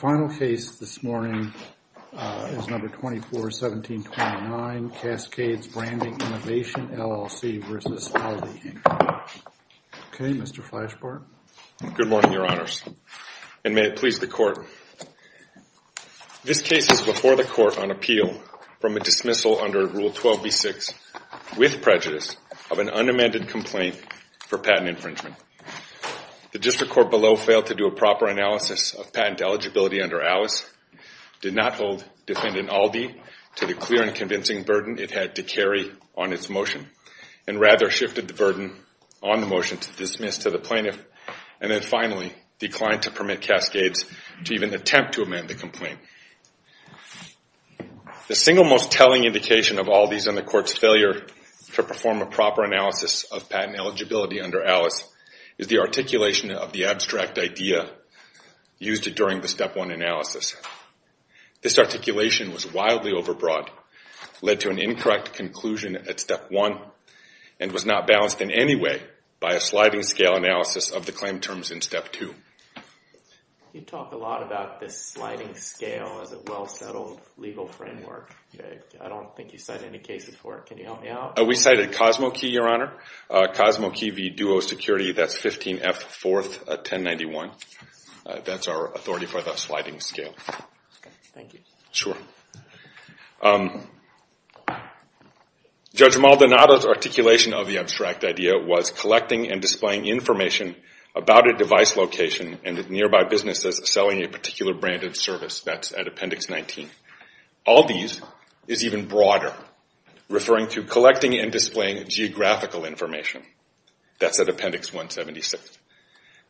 The final case this morning is No. 241729, Cascades Branding Innovation LLC v. Aldi, Inc. Okay, Mr. Flashbart. Good morning, Your Honors, and may it please the Court. This case is before the Court on appeal from a dismissal under Rule 12b-6, with prejudice, of an unamended complaint for patent infringement. The District Court below failed to do a proper analysis of patent eligibility under Alice, did not hold defendant Aldi to the clear and convincing burden it had to carry on its motion, and rather shifted the burden on the motion to dismiss to the plaintiff, and then finally declined to permit Cascades to even attempt to amend the complaint. The single most telling indication of Aldi's and the Court's failure to perform a proper analysis of patent eligibility under Alice is the articulation of the abstract idea used during the Step 1 analysis. This articulation was wildly overbroad, led to an incorrect conclusion at Step 1, and was not balanced in any way by a sliding scale analysis of the claim terms in Step 2. You talk a lot about this sliding scale as a well-settled legal framework. I don't think you cite any cases for it. Can you help me out? We cited Cosmo Key, Your Honor. Cosmo Key v. Duo Security, that's 15F 4th 1091. That's our authority for the sliding scale. Thank you. Sure. Judge Maldonado's articulation of the abstract idea was collecting and displaying information about a device location and the nearby businesses selling a particular brand of service. That's at Appendix 19. Aldi's is even broader, referring to collecting and displaying geographical information. That's at Appendix 176.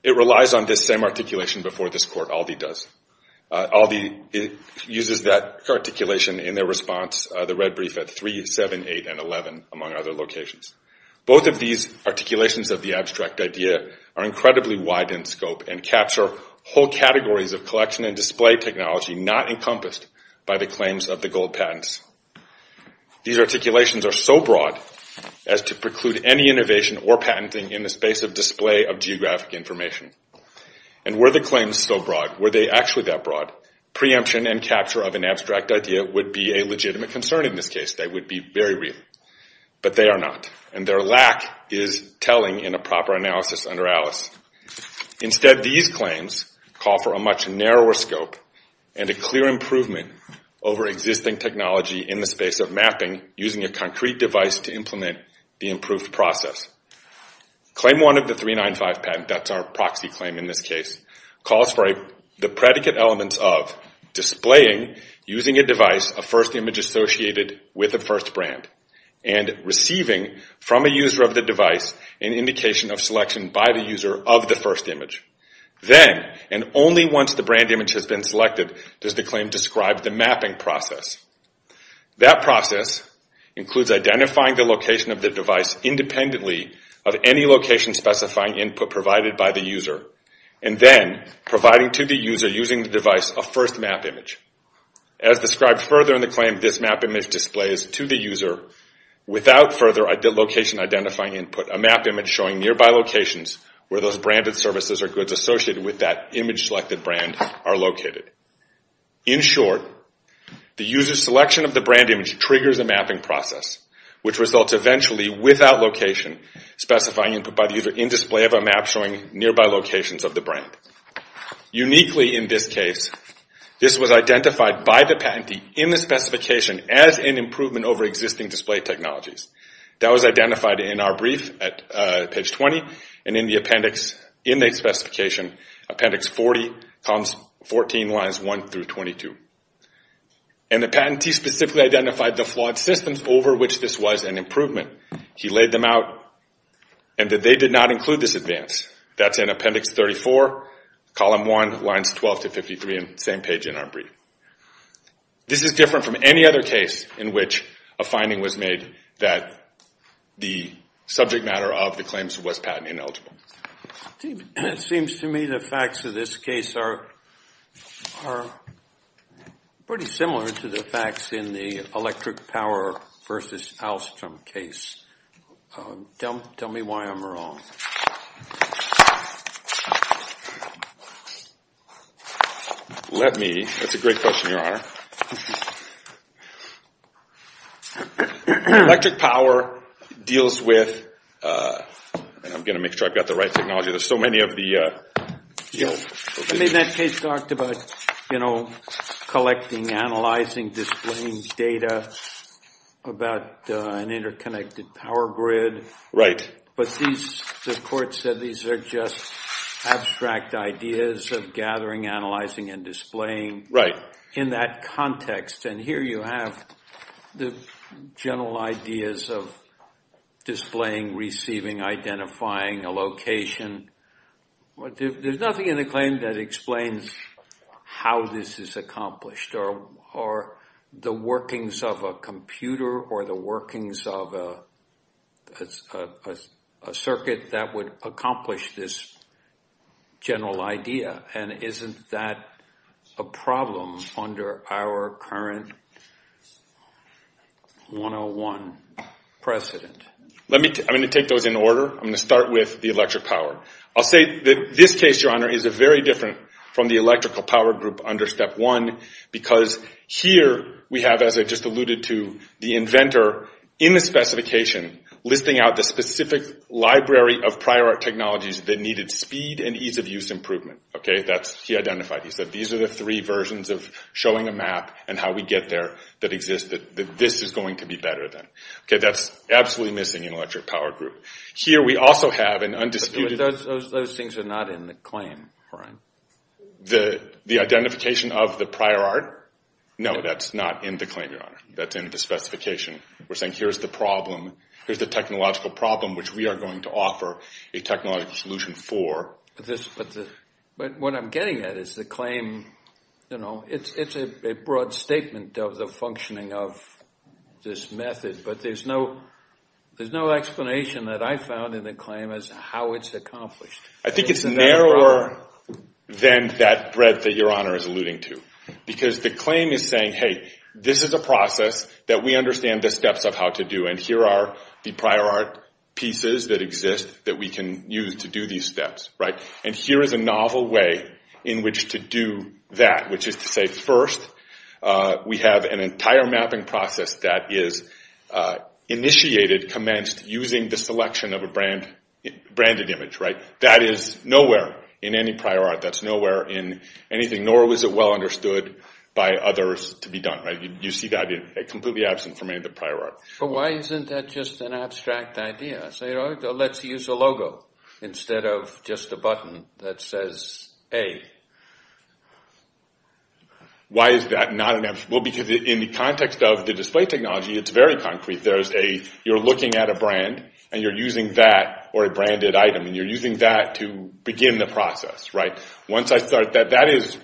It relies on this same articulation before this Court, Aldi does. Aldi uses that articulation in their response, the red brief, at 3, 7, 8, and 11, among other locations. Both of these articulations of the abstract idea are incredibly wide in scope and capture whole categories of collection and display technology not encompassed by the claims of the gold patents. These articulations are so broad as to preclude any innovation or patenting in the space of display of geographic information. And were the claims so broad, were they actually that broad, preemption and capture of an abstract idea would be a legitimate concern in this case. They would be very real. But they are not, and their lack is telling in a proper analysis under Alice. Instead, these claims call for a much narrower scope and a clear improvement over existing technology in the space of mapping using a concrete device to implement the improved process. Claim 1 of the 395 patent, that's our proxy claim in this case, calls for the predicate elements of displaying, using a device, a first image associated with a first brand, and receiving from a user of the device an indication of selection by the user of the first image. Then, and only once the brand image has been selected, does the claim describe the mapping process. That process includes identifying the location of the device independently of any location specifying input provided by the user, and then providing to the user using the device a first map image. As described further in the claim, this map image displays to the user, without further location identifying input, a map image showing nearby locations where those branded services or goods associated with that image-selected brand are located. In short, the user's selection of the brand image triggers a mapping process, which results eventually without location specifying input by the user in display of a map showing nearby locations of the brand. Uniquely in this case, this was identified by the patentee in the specification as an improvement over existing display technologies. That was identified in our brief at page 20, and in the appendix in the specification, appendix 40, columns 14, lines 1 through 22. The patentee specifically identified the flawed systems over which this was an improvement. He laid them out, and that they did not include this advance. That's in appendix 34, column 1, lines 12 to 53 in the same page in our brief. This is different from any other case in which a finding was made that the subject matter of the claims was patent ineligible. It seems to me the facts of this case are pretty similar to the facts in the electric power versus Alstrom case. Tell me why I'm wrong. Let me, that's a great question, Your Honor. Electric power deals with, and I'm going to make sure I've got the right technology. There's so many of the, you know. I mean that case talked about, you know, collecting, analyzing, displaying data about an interconnected power grid. Right. But the court said these are just abstract ideas of gathering, analyzing, and displaying. Right. In that context, and here you have the general ideas of displaying, receiving, identifying a location. There's nothing in the claim that explains how this is accomplished or the workings of a computer or the workings of a circuit that would accomplish this general idea. And isn't that a problem under our current 101 precedent? Let me, I'm going to take those in order. I'm going to start with the electric power. I'll say that this case, Your Honor, is very different from the electrical power group under Step 1 because here we have, as I just alluded to, the inventor in the specification listing out the specific library of prior art technologies that needed speed and ease of use improvement. Okay. That's, he identified, he said these are the three versions of showing a map and how we get there that exist that this is going to be better than. Okay. That's absolutely missing in electric power group. Here we also have an undisputed. Those things are not in the claim, Brian. The identification of the prior art? No, that's not in the claim, Your Honor. That's in the specification. We're saying here's the problem, here's the technological problem which we are going to offer a technological solution for. But what I'm getting at is the claim, you know, it's a broad statement of the functioning of this method, but there's no explanation that I found in the claim as to how it's accomplished. I think it's narrower than that breadth that Your Honor is alluding to because the claim is saying, hey, this is a process that we understand the steps of how to do and here are the prior art pieces that exist that we can use to do these steps, right? And here is a novel way in which to do that, which is to say, first, we have an entire mapping process that is initiated, commenced, using the selection of a branded image, right? That is nowhere in any prior art. That's nowhere in anything, nor was it well understood by others to be done, right? You see that completely absent from any of the prior art. But why isn't that just an abstract idea? Say, let's use a logo instead of just a button that says A. Why is that not an abstract? Well, because in the context of the display technology, it's very concrete. You're looking at a brand and you're using that or a branded item, and you're using that to begin the process, right? Once I start that, that is,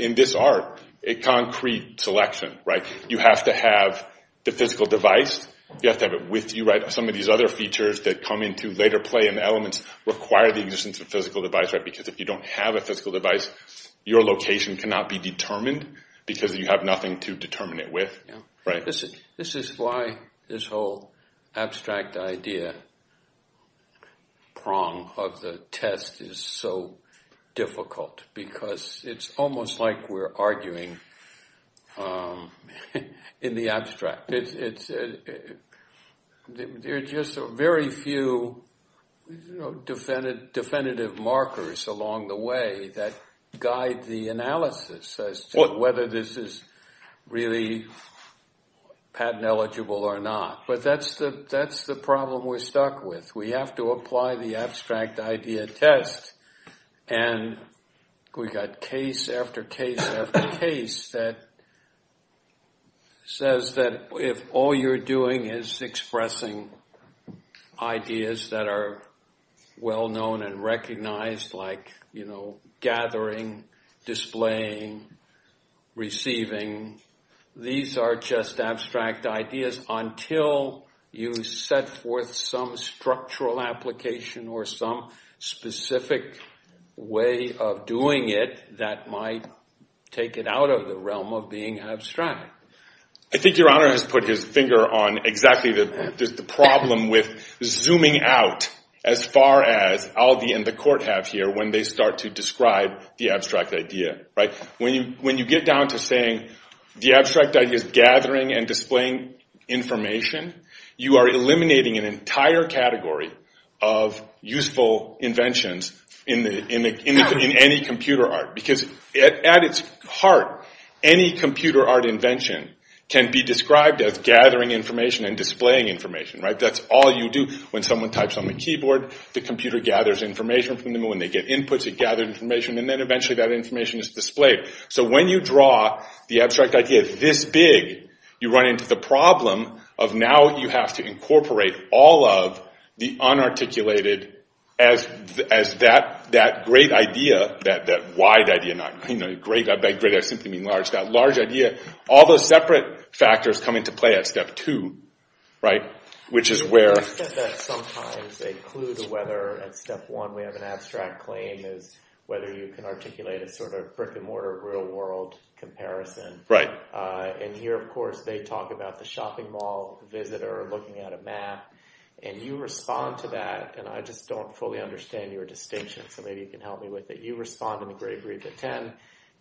in this art, a concrete selection, right? You have to have the physical device. You have to have it with you, right? Some of these other features that come into later play and elements require the existence of physical device, right? Because if you don't have a physical device, your location cannot be determined because you have nothing to determine it with, right? This is why this whole abstract idea prong of the test is so difficult, because it's almost like we're arguing in the abstract. There are just very few definitive markers along the way that guide the analysis as to whether this is really patent eligible or not. But that's the problem we're stuck with. We have to apply the abstract idea test, and we've got case after case after case that says that if all you're doing is expressing ideas that are well-known and recognized, like gathering, displaying, receiving, these are just abstract ideas until you set forth some structural application or some specific way of doing it that might take it out of the realm of being abstract. I think Your Honor has put his finger on exactly the problem with zooming out as far as Aldi and the court have here when they start to describe the abstract idea, right? When you get down to saying the abstract idea is gathering and displaying information, you are eliminating an entire category of useful inventions in any computer art. Because at its heart, any computer art invention can be described as gathering information and displaying information, right? That's all you do. When someone types on the keyboard, the computer gathers information from them. So when you draw the abstract idea this big, you run into the problem of now you have to incorporate all of the unarticulated as that great idea, that wide idea, not that great idea, I simply mean large, that large idea. All those separate factors come into play at step two, right? I get that sometimes a clue to whether at step one we have an abstract claim is whether you can articulate a sort of brick-and-mortar real-world comparison. And here, of course, they talk about the shopping mall visitor looking at a map. And you respond to that, and I just don't fully understand your distinction, so maybe you can help me with it. You respond in the great brief at 10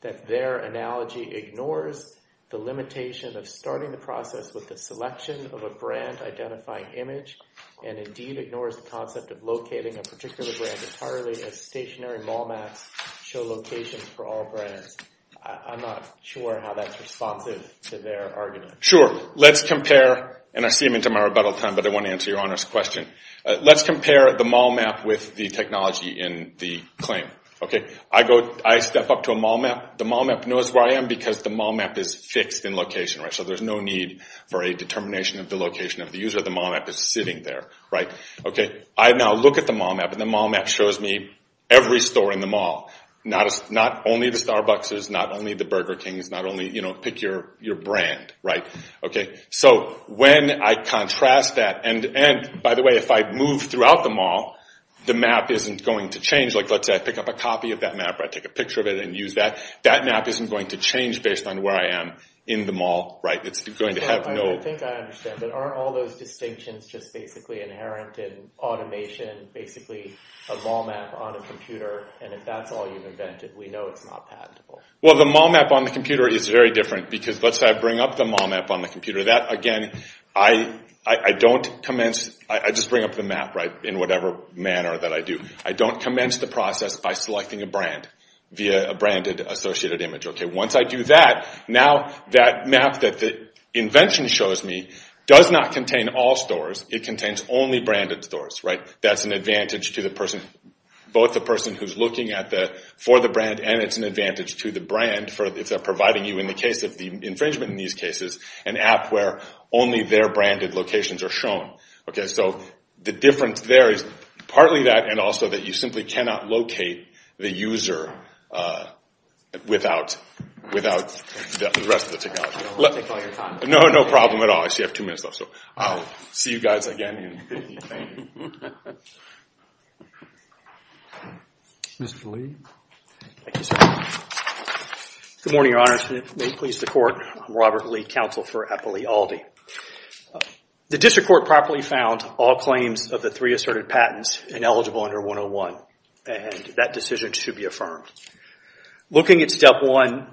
that their analogy ignores the limitation of starting the process with the selection of a brand-identifying image, and indeed ignores the concept of locating a particular brand entirely as stationary mall maps show locations for all brands. I'm not sure how that's responsive to their argument. Sure. Let's compare, and I see I'm into my rebuttal time, but I want to answer your honest question. Let's compare the mall map with the technology in the claim. I step up to a mall map. The mall map knows where I am because the mall map is fixed in location, so there's no need for a determination of the location of the user. The mall map is sitting there. I now look at the mall map, and the mall map shows me every store in the mall. Not only the Starbucks, not only the Burger Kings, not only, you know, pick your brand. So when I contrast that, and by the way, if I move throughout the mall, the map isn't going to change. Like, let's say I pick up a copy of that map, or I take a picture of it and use that. That map isn't going to change based on where I am in the mall, right? It's going to have no— I think I understand, but aren't all those distinctions just basically inherent in automation, basically a mall map on a computer, and if that's all you've invented, we know it's not patentable. Well, the mall map on the computer is very different, because let's say I bring up the mall map on the computer. That, again, I don't commence—I just bring up the map, right, in whatever manner that I do. I don't commence the process by selecting a brand via a branded associated image. Once I do that, now that map that the invention shows me does not contain all stores. It contains only branded stores, right? That's an advantage to the person—both the person who's looking for the brand, and it's an advantage to the brand if they're providing you, in the case of the infringement in these cases, an app where only their branded locations are shown. Okay, so the difference there is partly that, and also that you simply cannot locate the user without the rest of the technology. I don't want to take all your time. No, no problem at all. I see I have two minutes left, so I'll see you guys again in 15. Thank you. Mr. Lee. Thank you, sir. Good morning, Your Honors. May it please the Court. I'm Robert Lee, Counsel for Eppley Aldi. The District Court properly found all claims of the three asserted patents ineligible under 101, and that decision should be affirmed. Looking at step one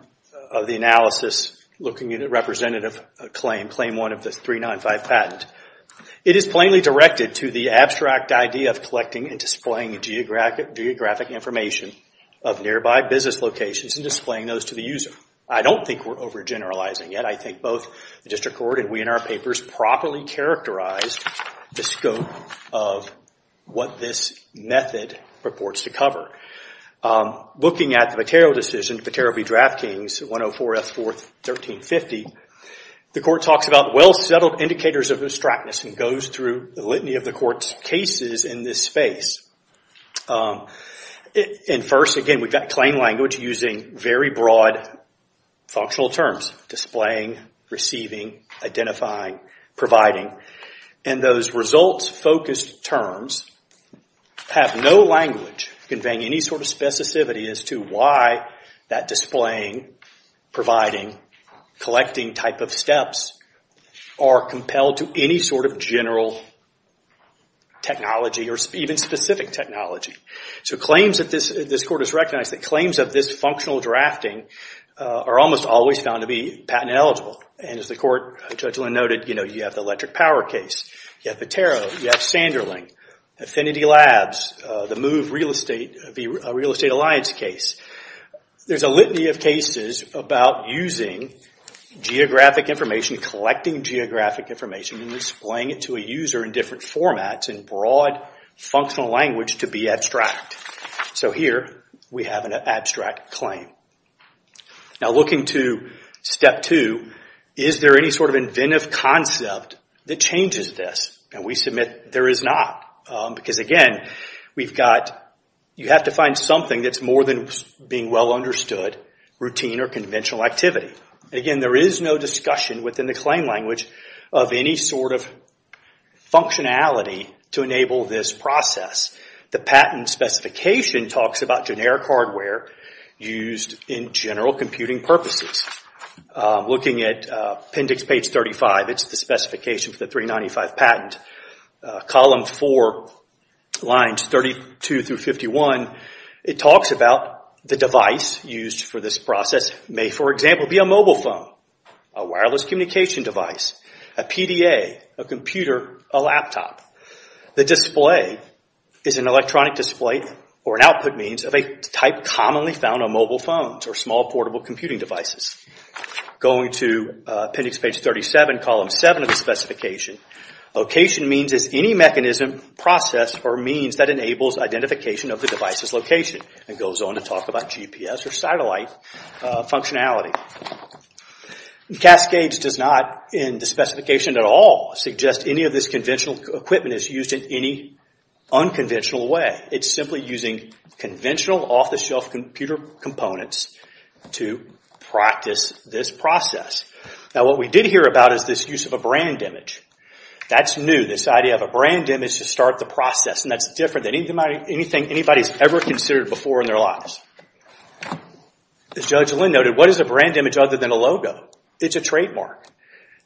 of the analysis, looking at a representative claim, claim one of the 395 patent, it is plainly directed to the abstract idea of collecting and displaying geographic information of nearby business locations and displaying those to the user. I don't think we're overgeneralizing it. I think both the District Court and we in our papers properly characterized the scope of what this method purports to cover. Looking at the Vitero decision, Vitero v. Draftkings, 104 F. 4th, 1350, the Court talks about well-settled indicators of abstractness and goes through the litany of the Court's cases in this space. First, again, we've got claim language using very broad functional terms, displaying, receiving, identifying, providing. Those results-focused terms have no language conveying any sort of specificity as to why that displaying, providing, collecting type of steps are compelled to any sort of general technology or even specific technology. This Court has recognized that claims of this functional drafting are almost always found to be patent-eligible. As the Court judge noted, you have the electric power case, you have Vitero, you have Sanderling, Affinity Labs, the Move Real Estate v. Real Estate Alliance case. There's a litany of cases about using geographic information, collecting geographic information and displaying it to a user in different formats in broad functional language to be abstract. So here we have an abstract claim. Now looking to Step 2, is there any sort of inventive concept that changes this? And we submit there is not. Because again, you have to find something that's more than being well understood, routine or conventional activity. Again, there is no discussion within the claim language of any sort of functionality to enable this process. The patent specification talks about generic hardware used in general computing purposes. Looking at appendix page 35, it's the specification for the 395 patent. Column 4, lines 32 through 51, it talks about the device used for this process. It may, for example, be a mobile phone, a wireless communication device, a PDA, a computer, a laptop. The display is an electronic display or an output means of a type commonly found on mobile phones or small portable computing devices. Going to appendix page 37, column 7 of the specification, location means is any mechanism, process, or means that enables identification of the device's location. It goes on to talk about GPS or satellite functionality. Cascades does not, in the specification at all, suggest any of this conventional equipment is used in any unconventional way. It's simply using conventional off-the-shelf computer components to practice this process. What we did hear about is this use of a brand image. That's new, this idea of a brand image to start the process. That's different than anything anybody's ever considered before in their lives. As Judge Lynn noted, what is a brand image other than a logo? It's a trademark.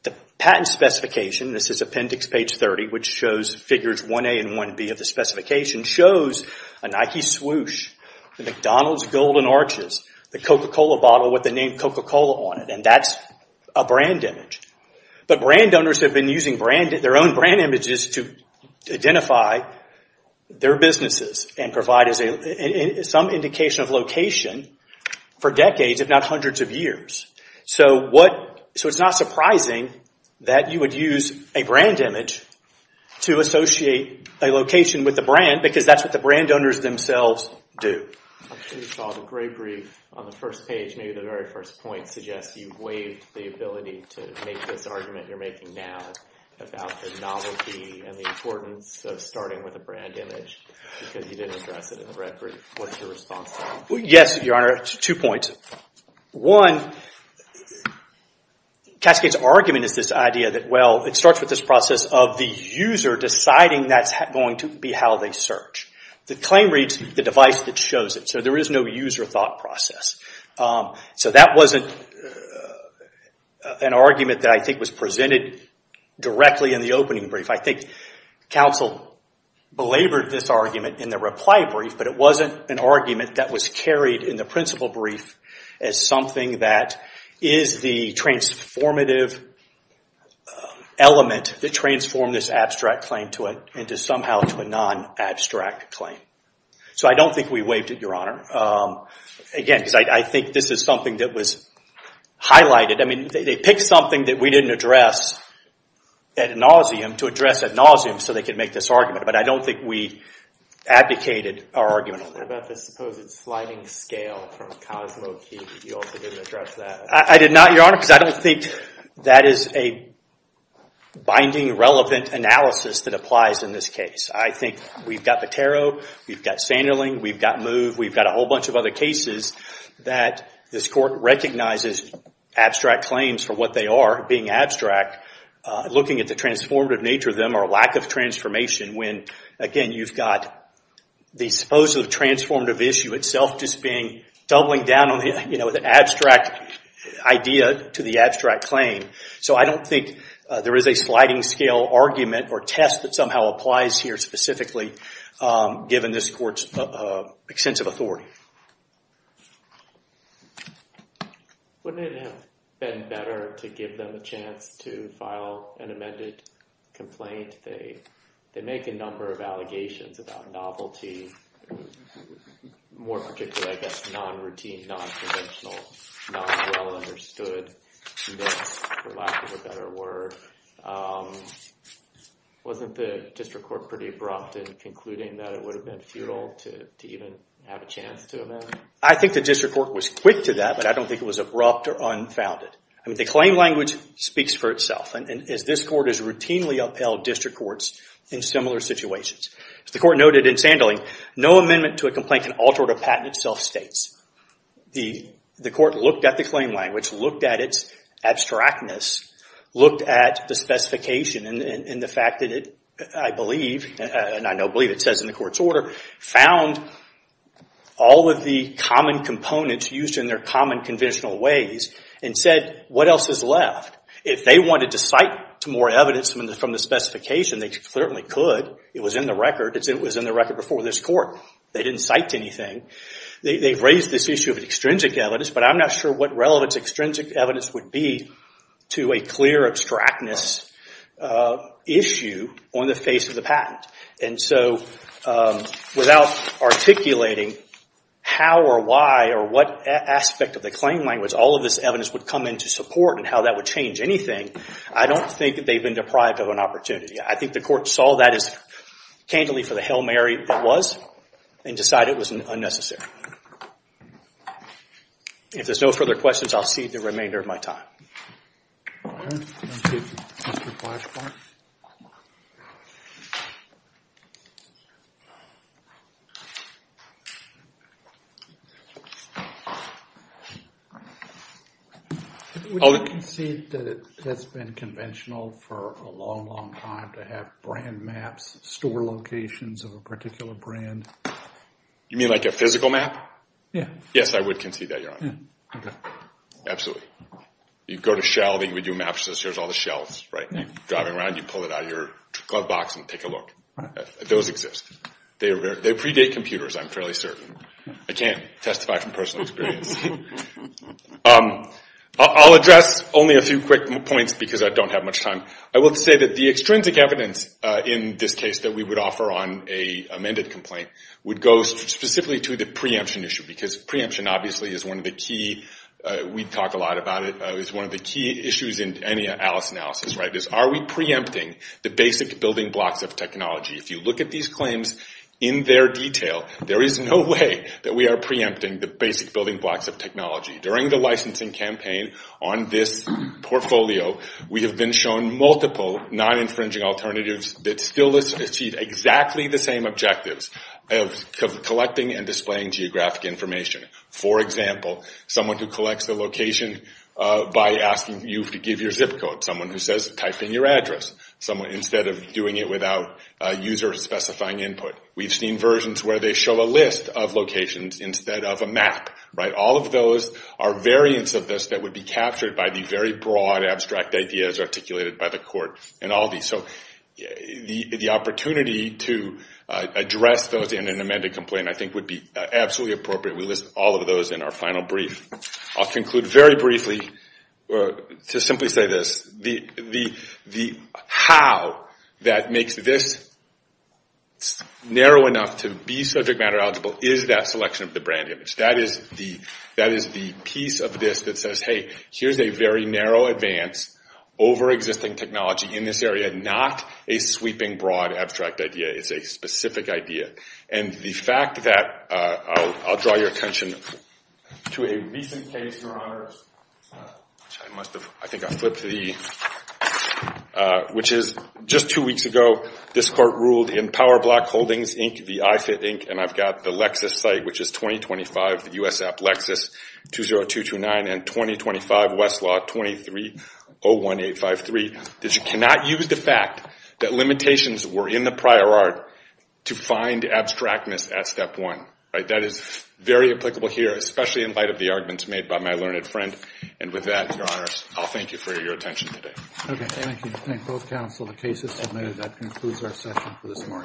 The patent specification, this is appendix page 30, which shows figures 1A and 1B of the specification, shows a Nike swoosh, McDonald's golden arches, the Coca-Cola bottle with the name Coca-Cola on it. That's a brand image. But brand owners have been using their own brand images to identify their businesses and provide some indication of location for decades, if not hundreds of years. It's not surprising that you would use a brand image to associate a location with a brand because that's what the brand owners themselves do. You saw the gray brief on the first page. Maybe the very first point suggests you've waived the ability to make this argument you're making now about the novelty and the importance of starting with a brand image because you didn't address it in the red brief. What's your response to that? Yes, Your Honor, two points. One, Cascade's argument is this idea that it starts with this process of the user deciding that's going to be how they search. The claim reads the device that shows it, so there is no user thought process. That wasn't an argument that I think was presented directly in the opening brief. I think counsel belabored this argument in the reply brief, but it wasn't an argument that was carried in the principal brief as something that is the transformative element that transformed this abstract claim into somehow a non-abstract claim. So I don't think we waived it, Your Honor. Again, because I think this is something that was highlighted. They picked something that we didn't address ad nauseum to address ad nauseam so they could make this argument, but I don't think we abdicated our argument on that. What about the supposed sliding scale from Cosmo Key that you also didn't address that? I did not, Your Honor, because I don't think that is a binding, relevant analysis that applies in this case. I think we've got Patero, we've got Sanderling, we've got Move, we've got a whole bunch of other cases that this Court recognizes abstract claims for what they are being abstract, looking at the transformative nature of them or lack of transformation when, again, you've got the supposed transformative issue itself just doubling down on the abstract idea to the abstract claim. So I don't think there is a sliding scale argument or test that somehow applies here specifically given this Court's extensive authority. Wouldn't it have been better to give them a chance to file an amended complaint? They make a number of allegations about novelty, more particularly, I guess, non-routine, non-conventional, non-well understood, for lack of a better word. Wasn't the District Court pretty abrupt in concluding that it would have been futile to even have a chance to amend? I think the District Court was quick to that, but I don't think it was abrupt or unfounded. The claim language speaks for itself, and this Court has routinely upheld District Courts in similar situations. As the Court noted in Sanderling, no amendment to a complaint can alter what a patent itself states. The Court looked at the claim language, looked at its abstractness, looked at the specification and the fact that it, I believe, and I now believe it says in the Court's order, found all of the common components used in their common conventional ways and said, what else is left? If they wanted to cite more evidence from the specification, they certainly could. It was in the record before this Court. They didn't cite anything. They've raised this issue of extrinsic evidence, but I'm not sure what relevance extrinsic evidence would be to a clear abstractness issue on the face of the patent. Without articulating how or why or what aspect of the claim language all of this evidence would come into support and how that would change anything, I don't think they've been deprived of an opportunity. I think the Court saw that as candidly for the Hail Mary it was and decided it was unnecessary. If there's no further questions, I'll cede the remainder of my time. Would you concede that it has been conventional for a long, long time to have brand maps, store locations of a particular brand? You mean like a physical map? Yes, I would concede that, Your Honor. You go to Shell, they give you a map that says here's all the shells. You pull it out of your glove box and take a look. Those exist. They predate computers, I'm fairly certain. I can't testify from personal experience. I'll address only a few quick points because I don't have much time. I will say that the extrinsic evidence in this case that we would offer on an amended complaint would go specifically to the preemption issue because preemption obviously is one of the key issues in any Alice analysis. Are we preempting the basic building blocks of technology? If you look at these claims in their detail, there is no way that we are preempting the basic building blocks of technology. During the licensing campaign on this portfolio, we have been shown multiple non-infringing alternatives that still achieve exactly the same objectives of collecting and displaying geographic information. For example, someone who collects the location by asking you to give your zip code. Someone who says type in your address instead of doing it without user specifying input. We've seen versions where they show a list of locations instead of a map. All of those are variants of this that would be captured by the very broad abstract ideas articulated by the court. The opportunity to address those in an amended complaint I think would be absolutely appropriate. We list all of those in our final brief. I'll conclude very briefly to simply say this. The how that makes this narrow enough to be subject matter eligible is that selection of the brand image. That is the piece of this that says here's a very narrow advance over existing technology in this area, not a sweeping broad abstract idea. It's a specific idea. I'll draw your attention to a recent case, which is just two weeks ago. This court ruled in PowerBlock Holdings Inc., the iFit Inc., and I've got the Lexus site, which is 2025USAppLexus20229 and 2025Westlaw2301853 that you cannot use the fact that limitations were in the prior art to find abstractness at step one. That is very applicable here, especially in light of the arguments made by my learned friend. With that, Your Honor, I'll thank you for your attention today. Thank you.